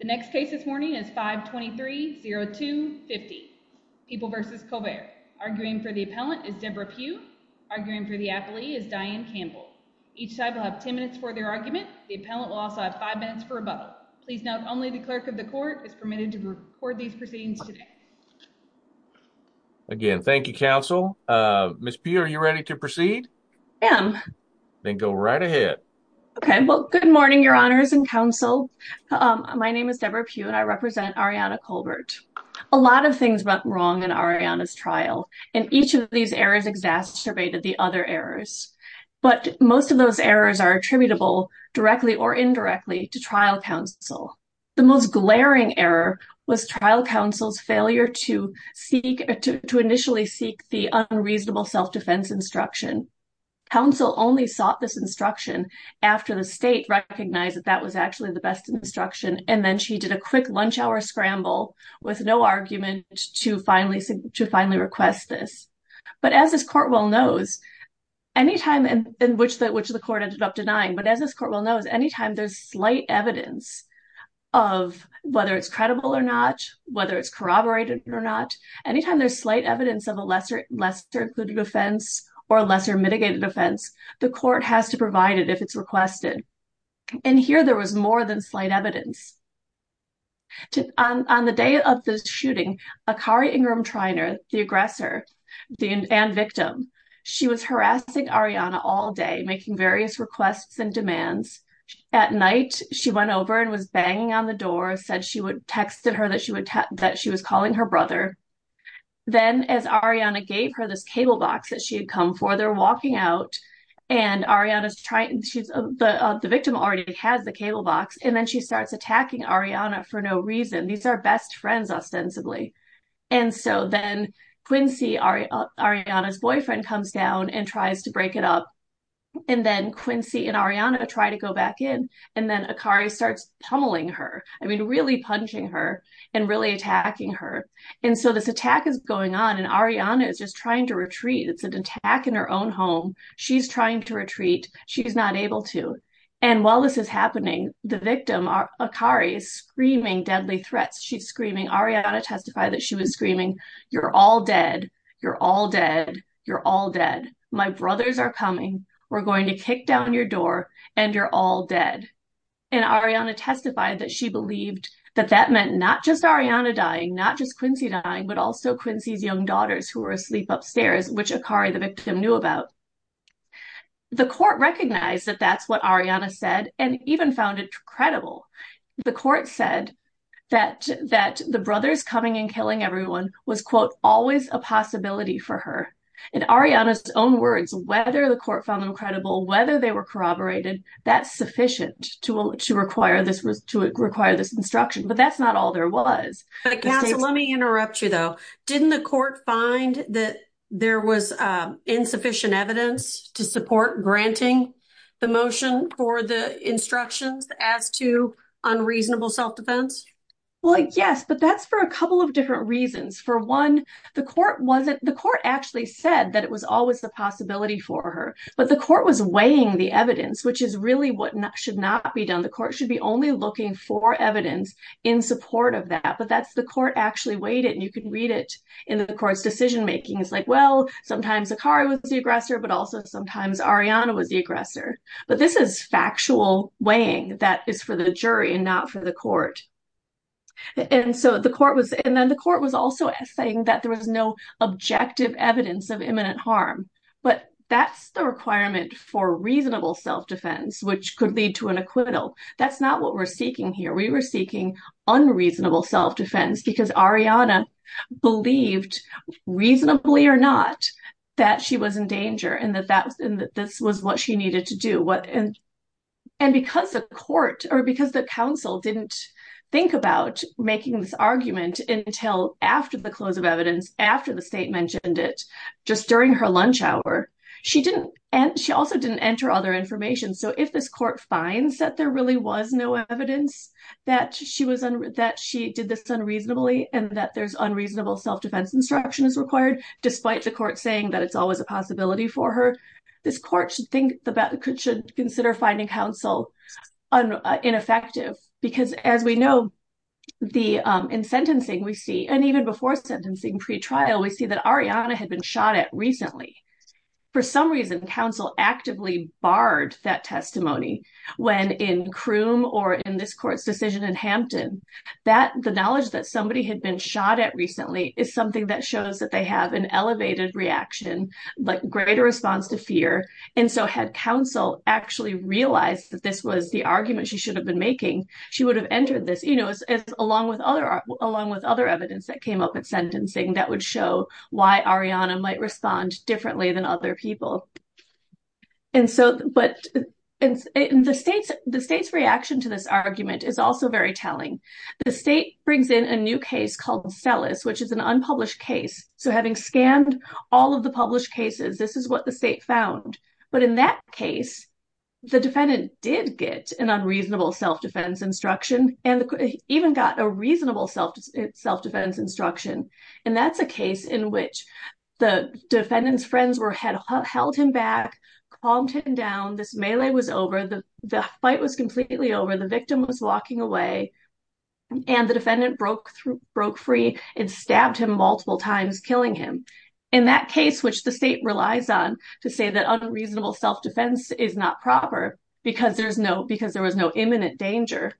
The next case this morning is 523-02-50. People v. Colbert. Arguing for the appellant is Deborah Pugh. Arguing for the appellee is Diane Campbell. Each side will have 10 minutes for their argument. The appellant will also have 5 minutes for rebuttal. Please note, only the clerk of the court is permitted to record these proceedings today. Again, thank you, counsel. Ms. Pugh, are you ready to proceed? I am. Then go right ahead. Okay, well, good morning, your honors and counsel. My name is Deborah Pugh, and I represent Ariana Colbert. A lot of things went wrong in Ariana's trial, and each of these errors exacerbated the other errors. But most of those errors are attributable, directly or indirectly, to trial counsel. The most glaring error was trial counsel's failure to initially seek the unreasonable self-defense instruction. Counsel only sought this instruction after the state recognized that that was actually the best instruction, and then she did a quick lunch hour scramble with no argument to finally request this. But as this court well knows, any time in which the court ended up denying, but as this court well knows, any time there's slight evidence of whether it's credible or not, whether it's corroborated or not, any time there's slight evidence of a lesser-included offense or lesser mitigated offense, the court has to provide it if it's requested. And here there was more than slight evidence. On the day of the shooting, Akari Ingram Treiner, the aggressor and victim, she was harassing Ariana all day, making various requests and demands. At night, she went over and was banging on the door, texted her that she was calling her brother. Then as Ariana gave her this cable box that she had come for, they're walking out, and the victim already has the cable box, and then she starts attacking Ariana for no reason. These are best friends, ostensibly. And so then Quincy, Ariana's boyfriend, comes down and tries to break it up. And then Quincy and Ariana try to go back in, and then Akari starts tumbling her, I mean really punching her and really attacking her. And so this attack is going on, and Ariana is just trying to retreat. It's an attack in her own home. She's trying to retreat. She's not able to. And while this is happening, the victim, Akari, is screaming deadly threats. She's screaming. Ariana testified that she was screaming, you're all dead. You're all dead. You're all dead. My brothers are coming. We're going to kick down your door, and you're all dead. And Ariana testified that she believed that that meant not just Ariana dying, not just Quincy dying, but also Quincy's young daughters who were asleep upstairs, which Akari, the victim, knew about. The court recognized that that's what Ariana said and even found it credible. The court said that the brothers coming and killing everyone was, quote, always a possibility for her. In Ariana's own words, whether the court found them whether they were corroborated, that's sufficient to require this instruction. But that's not all there was. Let me interrupt you, though. Didn't the court find that there was insufficient evidence to support granting the motion for the instructions as to unreasonable self-defense? Well, yes, but that's for a couple of different reasons. For one, the court actually said that it was always the possibility for her. But the court was weighing the evidence, which is really what should not be done. The court should be only looking for evidence in support of that. But that's the court actually weighed it, and you can read it in the court's decision making. It's like, well, sometimes Akari was the aggressor, but also sometimes Ariana was the aggressor. But this is factual weighing that is for the jury and not for the court. And then the court was also saying that there was no objective evidence of imminent harm. But that's the requirement for reasonable self-defense, which could lead to an acquittal. That's not what we're seeking here. We were seeking unreasonable self-defense because Ariana believed, reasonably or not, that she was in danger and that this was what she needed to do. And because the court or because the council didn't think about making this argument until after the close of evidence, after the state mentioned it, just during her lunch hour, she also didn't enter other information. So if this court finds that there really was no evidence that she did this unreasonably and that there's unreasonable self-defense instruction is required, despite the court saying that it's always a possibility for her, this court should consider finding counsel ineffective. Because as we know, in sentencing we see, and even before sentencing, pre-trial, we see that Ariana had been shot at recently. For some reason, counsel actively barred that testimony when in Croom or in this court's decision in Hampton. The knowledge that somebody had been shot at recently is something that shows that they have an elevated reaction, but greater response to fear. And so had counsel actually realized that this was the argument she should have been making, she would have entered along with other evidence that came up at sentencing that would show why Ariana might respond differently than other people. And so, but the state's reaction to this argument is also very telling. The state brings in a new case called Celis, which is an unpublished case. So having scanned all of the published cases, this is what the state found. But in that case, the defendant did get an unreasonable self-defense instruction and even got a reasonable self-defense instruction. And that's a case in which the defendant's friends had held him back, calmed him down, this melee was over, the fight was completely over, the victim was walking away, and the defendant broke free and stabbed him multiple times, killing him. In that case, the state relies on to say that unreasonable self-defense is not proper because there was no imminent danger.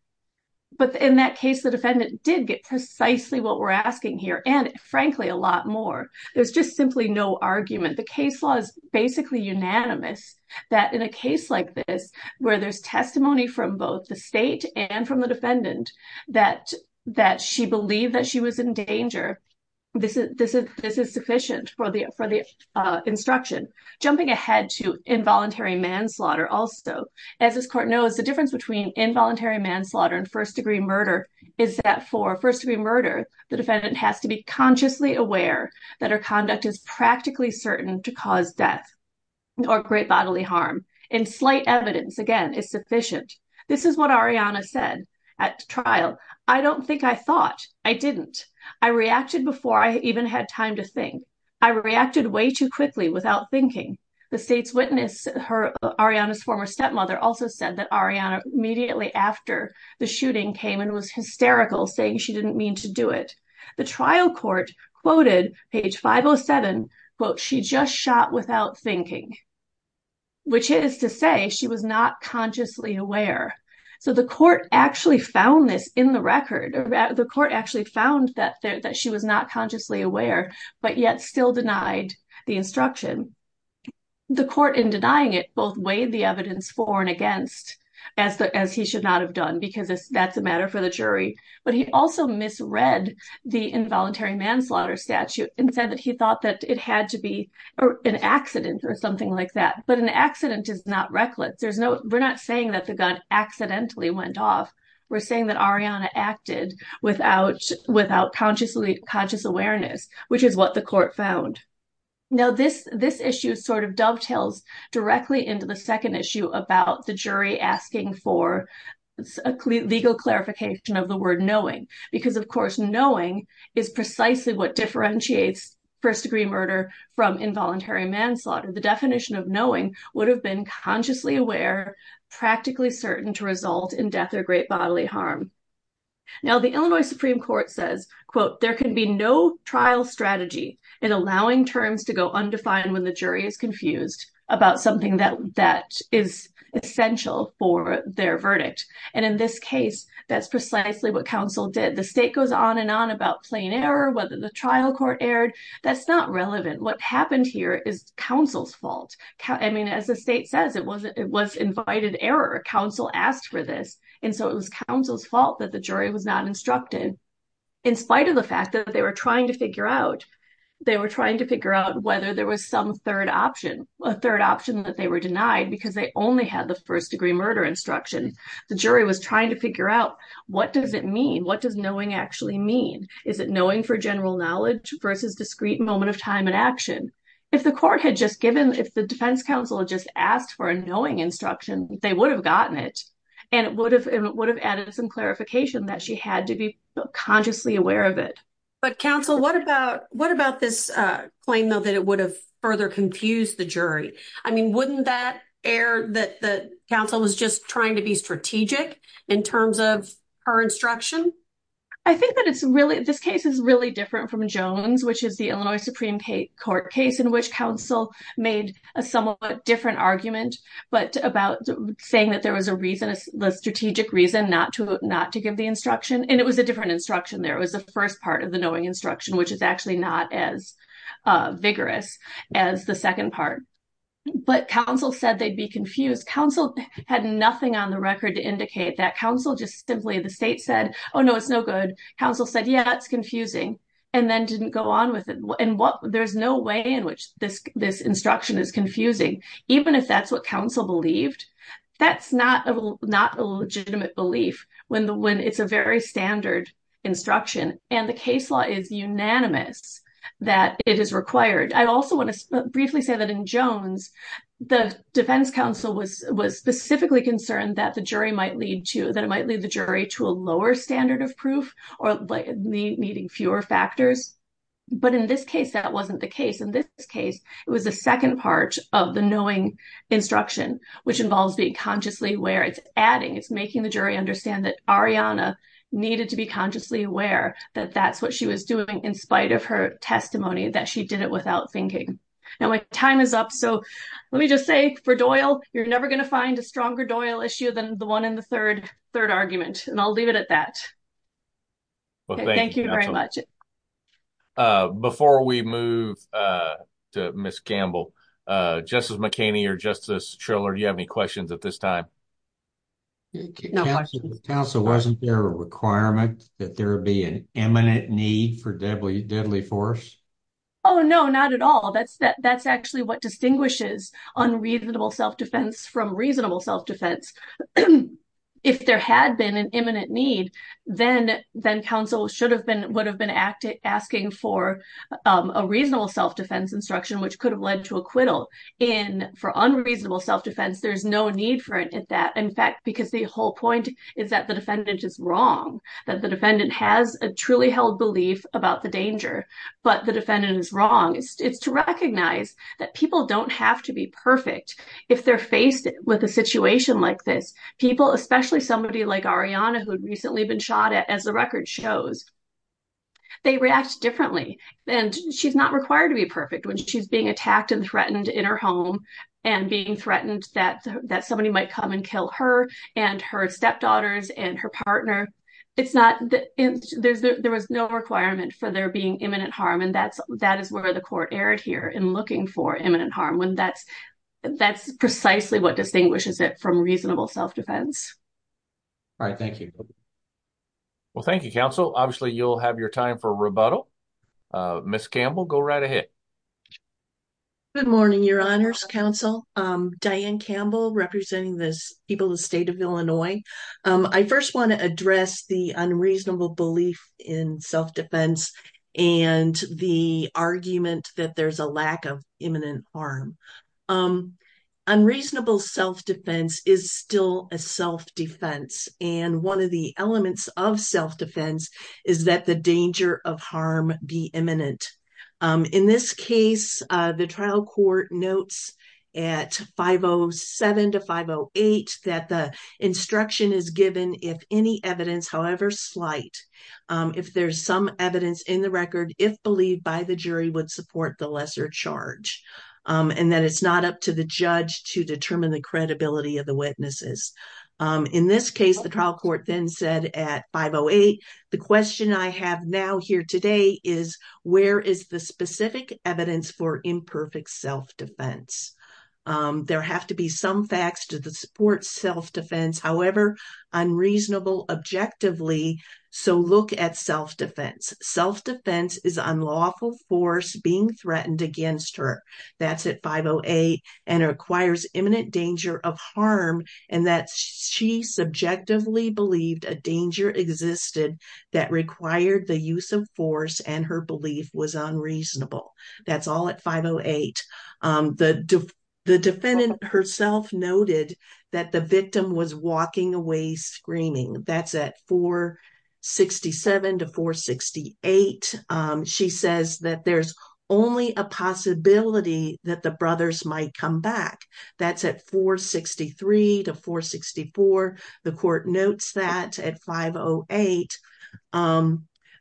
But in that case, the defendant did get precisely what we're asking here. And frankly, a lot more. There's just simply no argument. The case law is basically unanimous that in a case like this, where there's testimony from both the state and from the instruction, jumping ahead to involuntary manslaughter also. As this court knows, the difference between involuntary manslaughter and first-degree murder is that for first-degree murder, the defendant has to be consciously aware that her conduct is practically certain to cause death or great bodily harm. And slight evidence, again, is sufficient. This is what Ariana said at trial. I don't think I thought, I didn't. I reacted before I even had time to think. I reacted way too quickly without thinking. The state's witness, Ariana's former stepmother, also said that Ariana immediately after the shooting came and was hysterical, saying she didn't mean to do it. The trial court quoted page 507, quote, she just shot without thinking, which is to say she was not consciously aware. So the court actually found this in the record. The court actually found that she was not aware, but yet still denied the instruction. The court in denying it both weighed the evidence for and against, as he should not have done, because that's a matter for the jury. But he also misread the involuntary manslaughter statute and said that he thought that it had to be an accident or something like that. But an accident is not reckless. We're not saying that the gun accidentally went off. We're saying that Ariana acted without conscious awareness, which is what the court found. Now, this issue sort of dovetails directly into the second issue about the jury asking for a legal clarification of the word knowing. Because of course, knowing is precisely what differentiates first degree murder from involuntary manslaughter. The definition of would have been consciously aware, practically certain to result in death or great bodily harm. Now, the Illinois Supreme Court says, quote, there can be no trial strategy in allowing terms to go undefined when the jury is confused about something that is essential for their verdict. And in this case, that's precisely what counsel did. The state goes on and on about plain error, whether the trial court erred. That's not relevant. What happened here is counsel's fault. I mean, as the state says, it was invited error. Counsel asked for this. And so it was counsel's fault that the jury was not instructed. In spite of the fact that they were trying to figure out, they were trying to figure out whether there was some third option, a third option that they were denied because they only had the first degree murder instruction. The jury was trying to figure out what does it mean? What does knowing actually mean? Is it knowing for general knowledge versus discrete moment of time and action? If the court had just given, if the defense counsel had just asked for a knowing instruction, they would have gotten it. And it would have added some clarification that she had to be consciously aware of it. But counsel, what about this claim, though, that it would have further confused the jury? I mean, wouldn't that air that the counsel was just trying to be strategic in terms of her instruction? I think that it's really this case is really different from Jones, which is the Illinois Supreme Court case in which counsel made a somewhat different argument, but about saying that there was a reason, a strategic reason not to not to give the instruction. And it was a different instruction. There was the first part of the knowing instruction, which is actually not as vigorous as the second part. But counsel said they'd be confused. Counsel had nothing on the record to indicate that counsel just simply the state said, oh, no, it's no good. Counsel said, yeah, it's confusing and then didn't go on with it. And what there's no way in which this this instruction is confusing, even if that's what counsel believed. That's not not a legitimate belief when the when it's a very standard instruction and the case law is unanimous that it is required. I also want to briefly say that in Jones, the defense counsel was was specifically concerned that the jury might lead to that. It might lead the jury to a lower standard of proof or by needing fewer factors. But in this case, that wasn't the case. In this case, it was the second part of the knowing instruction, which involves being consciously where it's adding. It's making the jury understand that Ariana needed to be consciously aware that that's what she was doing in spite of her testimony, that she did it without thinking. Now, my time is up. So let me just say for Doyle, you're never going to find a stronger Doyle issue than the one in the third third argument. And I'll leave it at that. Well, thank you very much. Before we move to Justice McCaney or Justice Triller, do you have any questions at this time? Counsel, wasn't there a requirement that there would be an imminent need for deadly deadly force? Oh, no, not at all. That's that that's actually what distinguishes unreasonable self-defense from reasonable self-defense. If there had been an imminent need, then then counsel should have would have been asking for a reasonable self-defense instruction, which could have led to acquittal in for unreasonable self-defense. There's no need for that, in fact, because the whole point is that the defendant is wrong, that the defendant has a truly held belief about the danger, but the defendant is wrong. It's to recognize that people don't have to be perfect if they're faced with a situation like this. People, especially somebody like Ariana, who had recently been shot at, as the record shows, they react differently. And she's not required to be perfect when she's being attacked and threatened in her home and being threatened that that somebody might come and kill her and her stepdaughters and her partner. It's not that there's there was no requirement for there being imminent harm. And that's that is where the court erred here in looking for imminent harm when that's that's precisely what distinguishes it reasonable self-defense. All right, thank you. Well, thank you, counsel. Obviously, you'll have your time for rebuttal. Ms. Campbell, go right ahead. Good morning, your honors, counsel. Diane Campbell representing the people of the state of Illinois. I first want to address the unreasonable belief in self-defense and the argument that there's a lack of imminent harm. Unreasonable self-defense is still a self-defense. And one of the elements of self-defense is that the danger of harm be imminent. In this case, the trial court notes at 507 to 508 that the instruction is given if any evidence, however slight, if there's some evidence in the record, if believed by the jury would support the lesser charge and that it's not up to the judge to determine the credibility of the witnesses. In this case, the trial court then said at 508, the question I have now here today is where is the specific evidence for imperfect self-defense? There have to be some facts to support self-defense, however unreasonable objectively. So look at self-defense. Self-defense is unlawful force being threatened against her. That's at 508 and requires imminent danger of harm and that she subjectively believed a danger existed that required the use of force and her belief was unreasonable. That's all at 508. The defendant herself noted that the victim was walking away screaming. That's at 467 to 468. She says that there's only a possibility that the brothers might come back. That's at 463 to 464. The court notes that at 508.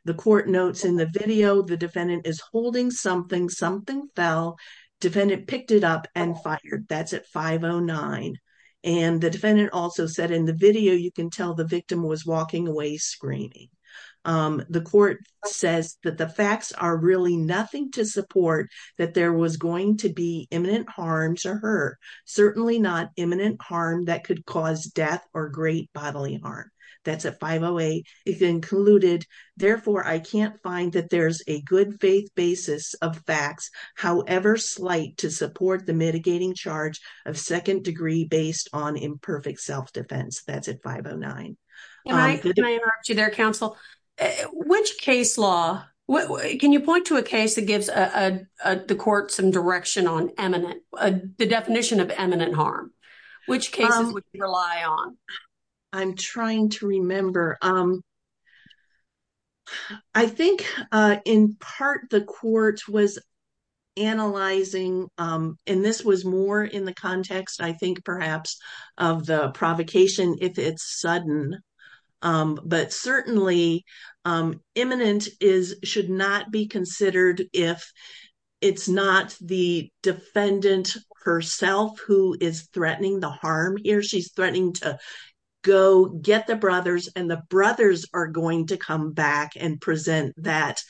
The court notes in the video the defendant is holding something, something fell. Defendant picked it up and fired. That's at 509. And the defendant also said in the video, you can tell the victim was walking away screaming. The court says that the facts are really nothing to support that there was going to be imminent harm to her. Certainly not imminent harm that could cause death or great bodily harm. That's at 508. It's included. Therefore, I can't that there's a good faith basis of facts, however slight to support the mitigating charge of second degree based on imperfect self-defense. That's at 509. Can I interrupt you there, counsel? Which case law, can you point to a case that gives the court some direction on eminent, the definition of eminent harm? Which cases would you rely on? I'm trying to remember. I think in part, the court was analyzing, and this was more in the context, I think, perhaps of the provocation if it's sudden. But certainly, imminent should not be considered if it's not the defendant herself who is threatening the harm here. She's threatening to go get the brothers, and the brothers are going to come back and present that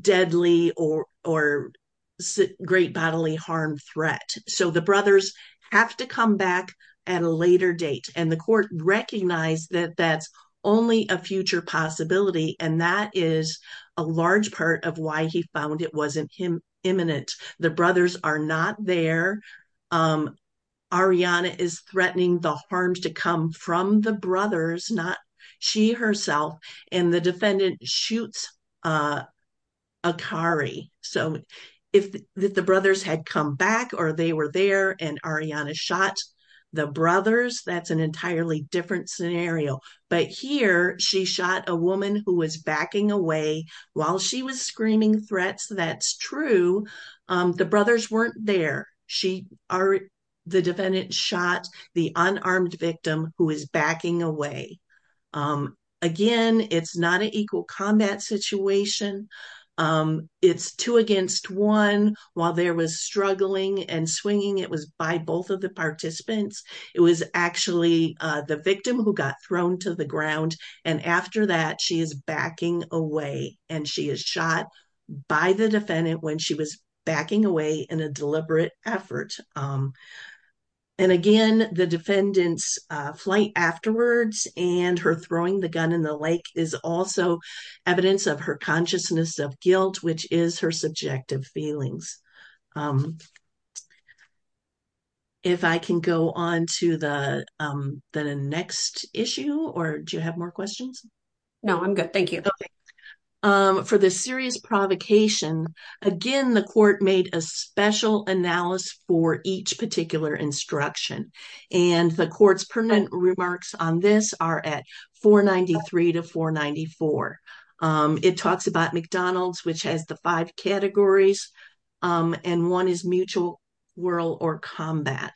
deadly or great bodily harm threat. So the brothers have to come back at a later date. And the court recognized that that's only a future possibility. And that is a large part of why he found it wasn't him imminent. The brothers are not there. Ariana is threatening the harms to come from the brothers, not she herself. And the defendant shoots Akari. So if the brothers had come back or they were there, and Ariana shot the brothers, that's an entirely different scenario. But here, she shot a woman who was backing away while she was screaming threats. That's true. The brothers weren't there. The defendant shot the unarmed victim who is backing away. Again, it's not an equal combat situation. It's two against one while there was struggling and swinging. It was by both of the participants. It was actually the victim who got thrown to the ground. And after that, she is backing away. And she is shot by the defendant when she was backing away in a deliberate effort. And again, the defendant's flight afterwards and her throwing the gun in the lake is also evidence of her consciousness of guilt, which is her subjective feelings. If I can go on to the next issue or do you have more questions? No, I'm good. Thank you. For the serious provocation, again, the court made a special analysis for each particular instruction. And the court's permanent remarks on this are at 493 to 494. It talks about McDonald's, which has the five categories. And one is mutual world or combat.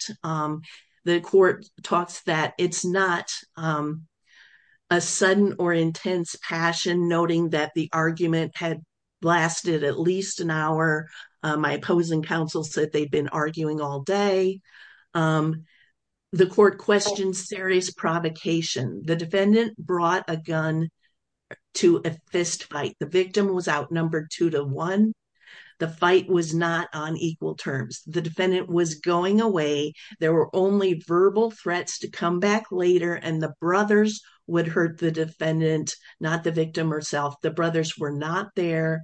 The court talks that it's not a sudden or intense passion, noting that the argument had lasted at least an hour. My opposing counsel said they'd been arguing all day. The court questions serious provocation. The defendant brought a gun to a fist fight. The victim was outnumbered two to one. The fight was not on equal terms. The defendant was going away. There were only verbal threats to come back later. And the brothers would hurt the defendant, not the victim herself. The brothers were not there.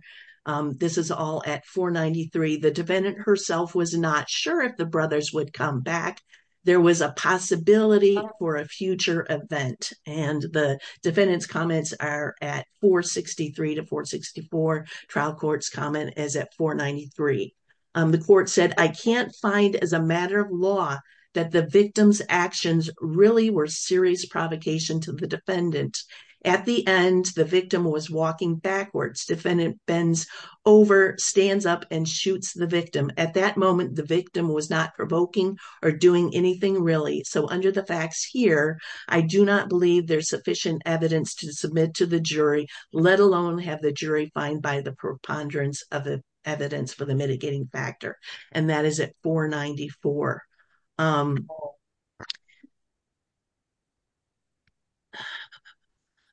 This is all at 493. The defendant herself was not sure if the brothers would come back. There was a possibility for a future event. And the defendant's comments are at 463 to 464. Trial court's comment is at 493. The court said, I can't find as a matter of law that the victim's actions really were serious provocation to the defendant. At the end, the victim was walking backwards. Defendant bends over, stands up and shoots the victim. At that moment, the victim was not provoking or doing anything really. So under the facts here, I do not believe there's sufficient evidence to submit to the jury, let alone have the jury find by the preponderance of the evidence for the mitigating factor. And that is at 494.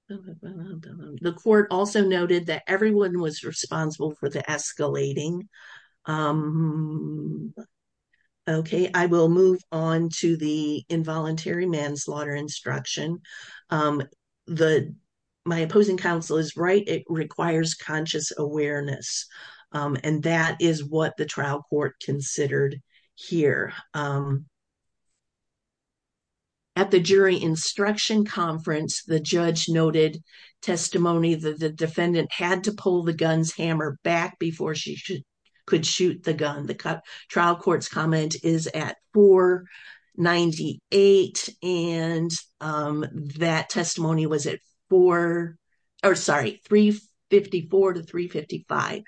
The court also noted that everyone was responsible for the escalating. I will move on to the involuntary manslaughter instruction. My opposing counsel is right. It requires conscious awareness. And that is what the trial court considered here. At the jury instruction conference, the judge noted testimony that the defendant had to pull the gun's hammer back before she could shoot the gun. The trial court's comment is at 498. And that testimony was at 454 to 355.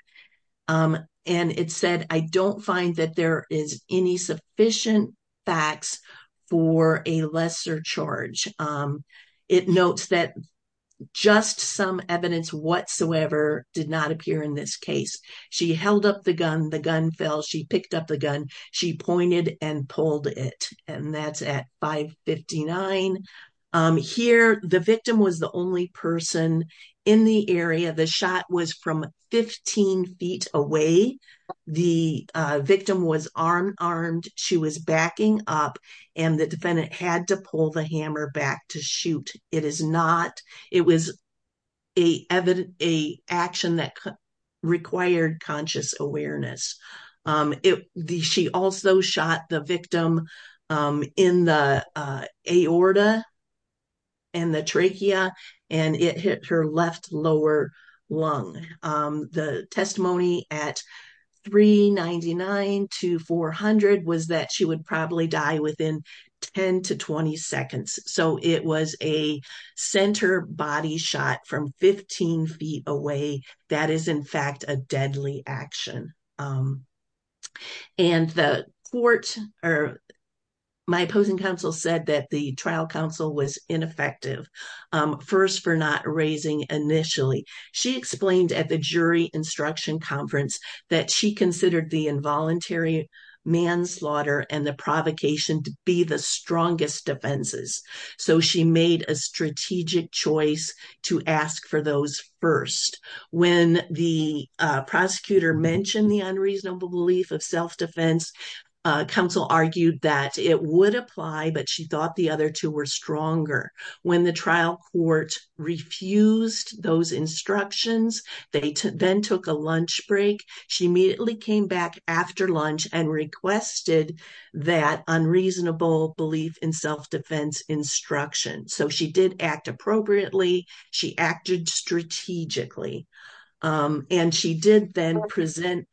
And it said, I don't find that there is any sufficient facts for a lesser charge. It notes that just some evidence whatsoever did not appear in this case. She held up the gun. The gun fell. She picked up the gun. She pointed and pulled it. And that's at 559. Here, the victim was the only person in the area. The shot was from 15 feet away. The victim was unarmed. She was backing up. And the defendant had to pull the hammer back to shoot. It was an action that required conscious awareness. She also shot the victim in the aorta and the trachea. And it hit her left lower lung. The testimony at 399 to 400 was that she would probably die within 10 to 20 seconds. So, it was a center body shot from 15 feet away. That is, in fact, a deadly action. And my opposing counsel said that the trial counsel was ineffective, first for not raising initially. She explained at the jury instruction conference that she considered the involuntary manslaughter and the provocation to the strongest defenses. So, she made a strategic choice to ask for those first. When the prosecutor mentioned the unreasonable belief of self-defense, counsel argued that it would apply, but she thought the other two were stronger. When the trial court refused those instructions, they then took a lunch break. She immediately came back after lunch and requested that unreasonable belief in self-defense instruction. So, she did act appropriately. She acted strategically. And she did then present,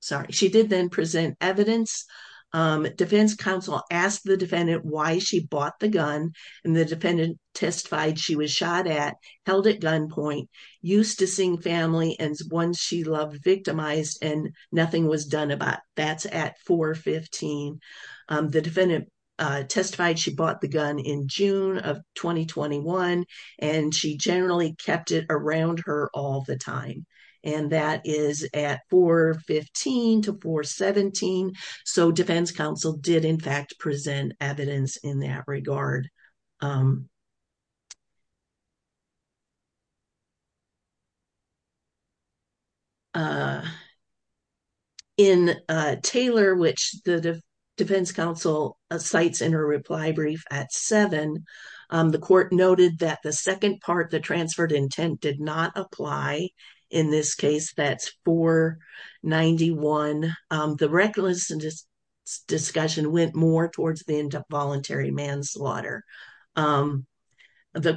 sorry, she did then present evidence. Defense counsel asked the defendant why she bought the gun and the defendant testified she was shot at, held at gunpoint, used to sing family, and one she loved victimized and nothing was done about. That's at 415. The defendant testified she bought the gun in June of 2021, and she generally kept it around her all the time. And that is at 415 to 417. So, defense counsel did, in fact, present evidence in that regard. In Taylor, which the defense counsel cites in her reply brief at 7, the court noted that the second part, the transferred intent, did not apply. In this case, that's 491. The reckless discussion went more towards the end of voluntary manslaughter. The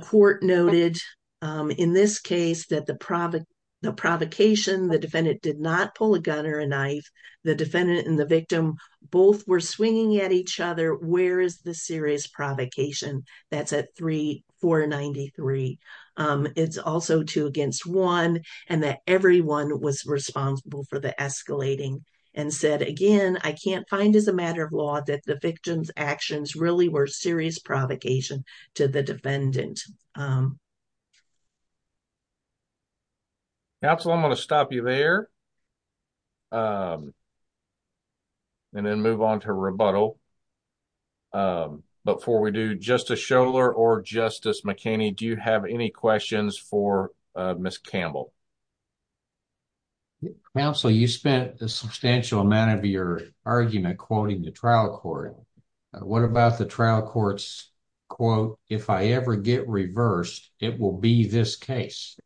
court noted, in this case, that the provocation, the defendant did not pull a gun or a knife. The defendant and the victim both were swinging at each other. Where is the serious provocation? That's at 393. It's also two against one, and that everyone was responsible for the escalating and said, again, I can't find as a matter of law that the victim's actions really were serious provocation to the defendant. Counsel, I'm going to stop you there and then move on to rebuttal. Before we do, Justice Scholar or Justice McKinney, do you have any questions for Ms. Campbell? Counsel, you spent a substantial amount of your argument quoting the trial court. What about the trial court's quote, if I ever get reversed, it will be this case?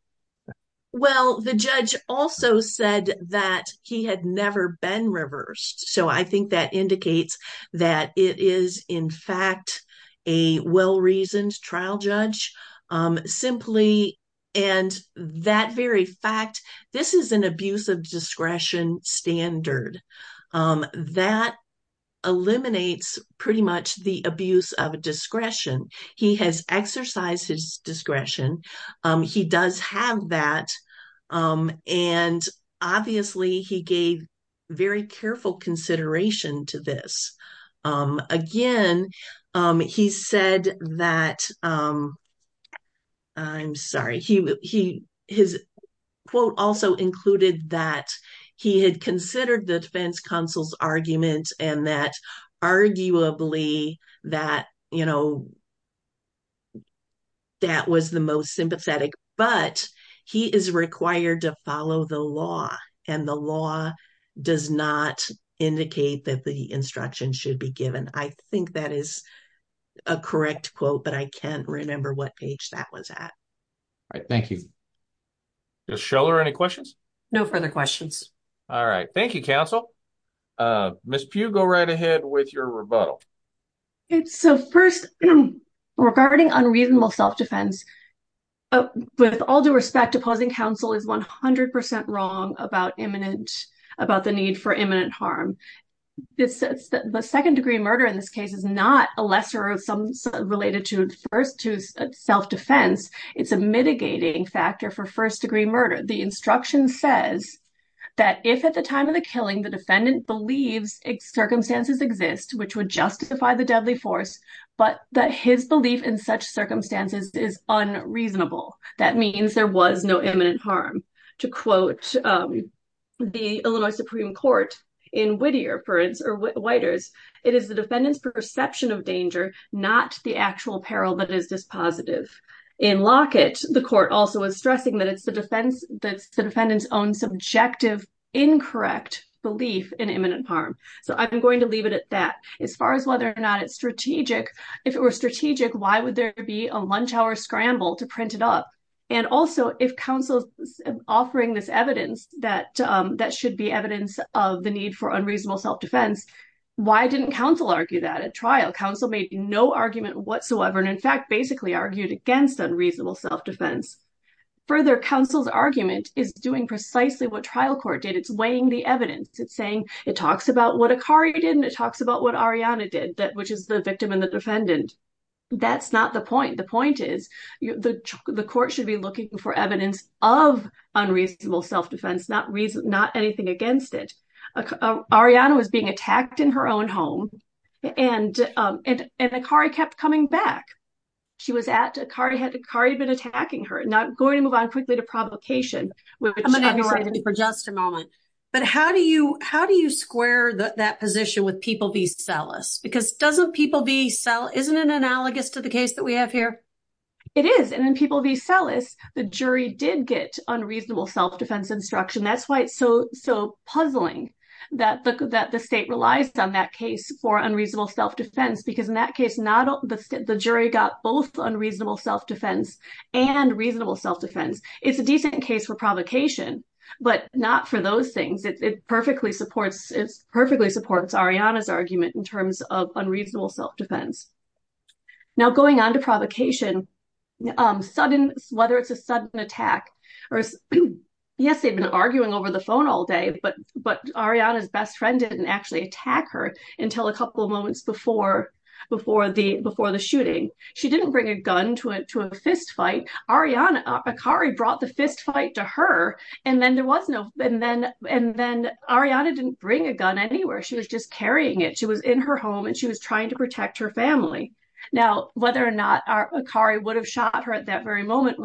Well, the judge also said that he had never been reversed. So, I think that indicates that it is, in fact, a well-reasoned trial judge. Simply, and that very fact, this is an abuse of discretion standard. That eliminates pretty much the abuse of discretion. He has exercised his discretion. He does have that. And obviously, he gave very careful consideration to this. Again, he said that I'm sorry. His quote also included that he had considered the defense counsel's argument and that arguably that, you know, that was the most sympathetic. But he is required to follow the law and the law does not indicate that the instruction should be given. I think that is a correct quote, but I can't remember what page that was at. All right. Thank you. Justice Scholar, any questions? No further questions. All right. Thank you, counsel. Ms. Pugh, go right ahead with your rebuttal. So, first, regarding unreasonable self-defense, with all due respect, opposing counsel is 100% wrong about the need for imminent harm. The second degree of murder in this case is not a lesser or some related to self-defense. It's a mitigating factor for first-degree murder. The instruction says that if at the time of the killing the defendant believes its circumstances exist, which would justify the deadly force, but that his belief in such circumstances is unreasonable, that means there was no imminent harm. To quote the Illinois Supreme Court in Whittier, it is the defendant's perception of danger, not the actual peril that is dispositive. In Lockett, the court also is stressing that it's the defendant's own subjective, incorrect belief in imminent harm. So I'm going to leave it at that. As far as whether or not it's strategic, if it were strategic, why would there be a lunch hour scramble to print it up? And also, if counsel is offering this evidence that that should be evidence of the need for unreasonable self-defense, why didn't counsel argue that at trial? Counsel made no argument whatsoever, and in fact basically argued against unreasonable self-defense. Further, counsel's argument is doing precisely what trial court did. It's weighing the evidence. It's saying it talks about what Akari did and it talks about what Ariana did, which is the victim and the defendant. That's not the point. The point is the court should be looking for evidence of unreasonable self-defense, not anything against it. Ariana was being attacked in her own home and Akari kept coming back. Akari had been attacking her. Now I'm going to move on quickly to provocation. I'm going to interrupt you for just a moment, but how do you square that position with people be cellists? Because doesn't people be cellists, isn't it analogous to the case that we have here? It is, and in people be cellists, the jury did get unreasonable self-defense instruction. That's why it's so puzzling that the state relies on that case for unreasonable self-defense, because in that case, the jury got both unreasonable self-defense and reasonable self-defense. It's a decent case for provocation, but not for those things. It perfectly supports Ariana's argument in terms of unreasonable self-defense. Now going on to provocation, whether it's a sudden attack or yes, they've been over the phone all day, but Ariana's best friend didn't actually attack her until a couple of moments before the shooting. She didn't bring a gun to a fist fight. Akari brought the fist fight to her and then Ariana didn't bring a gun anywhere. She was just carrying it. She was in her home and she was trying to protect her family. Now, whether or not Akari would have shot her at very moment,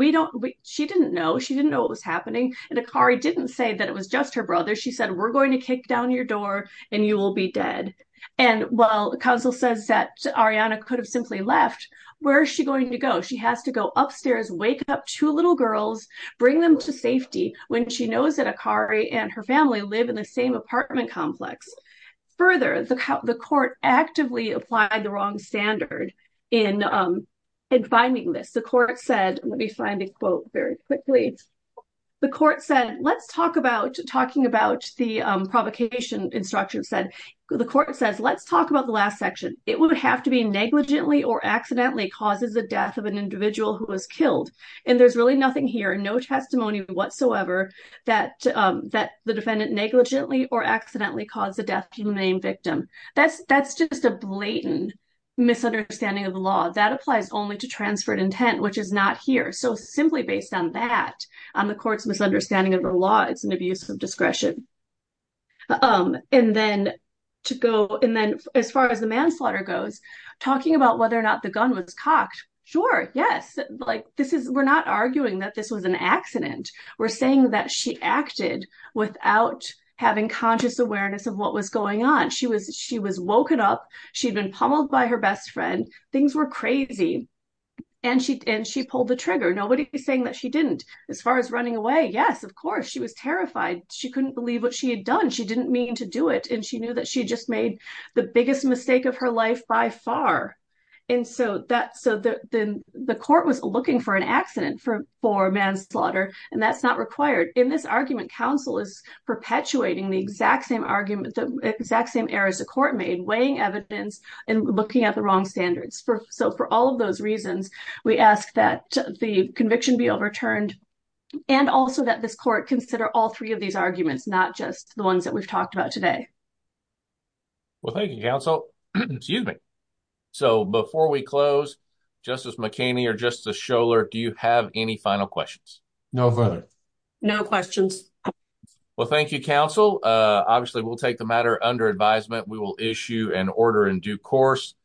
she didn't know. She didn't know what was happening and Akari didn't say that it was just her brother. She said, we're going to kick down your door and you will be dead. And while the counsel says that Ariana could have simply left, where is she going to go? She has to go upstairs, wake up two little girls, bring them to safety when she knows that Akari and her family live in the same apartment complex. Further, the court actively applied the wrong standard in finding this. The court said, let me find a quote very quickly. The court said, let's talk about, talking about the provocation instruction said, the court says, let's talk about the last section. It would have to be negligently or accidentally causes the death of an individual who was killed. And there's really nothing here, no testimony whatsoever that the defendant negligently or accidentally caused the death of the main victim. That's just a blatant misunderstanding of the law that applies only to transferred intent, which is not here. So simply based on that, on the court's misunderstanding of the law, it's an abuse of discretion. And then to go, and then as far as the manslaughter goes, talking about whether or not the gun was cocked. Sure. Yes. Like this is, we're not arguing that this was an accident. We're saying that she acted without having conscious awareness of what was going on. She was, she was woken up. She'd been pummeled by her best friend. Things were crazy. And she, and she pulled the trigger. Nobody was saying that she didn't as far as running away. Yes, of course she was terrified. She couldn't believe what she had done. She didn't mean to do it. And she knew that she just made the biggest mistake of her life by far. And so that, so the, the, the court was looking for an accident for, for manslaughter and that's not required in this argument. Counsel is perpetuating the exact same argument, the exact same errors the court made, weighing evidence and looking at the wrong standards for. So for all of those reasons, we ask that the conviction be overturned and also that this court consider all three of these arguments, not just the ones that we've talked about today. Well, thank you counsel. Excuse me. So before we close justice McKinney or justice Schoeller, do you have any final questions? No further, no questions. Well, thank you counsel. Obviously we'll take the matter under advisement. We will issue an order in due course.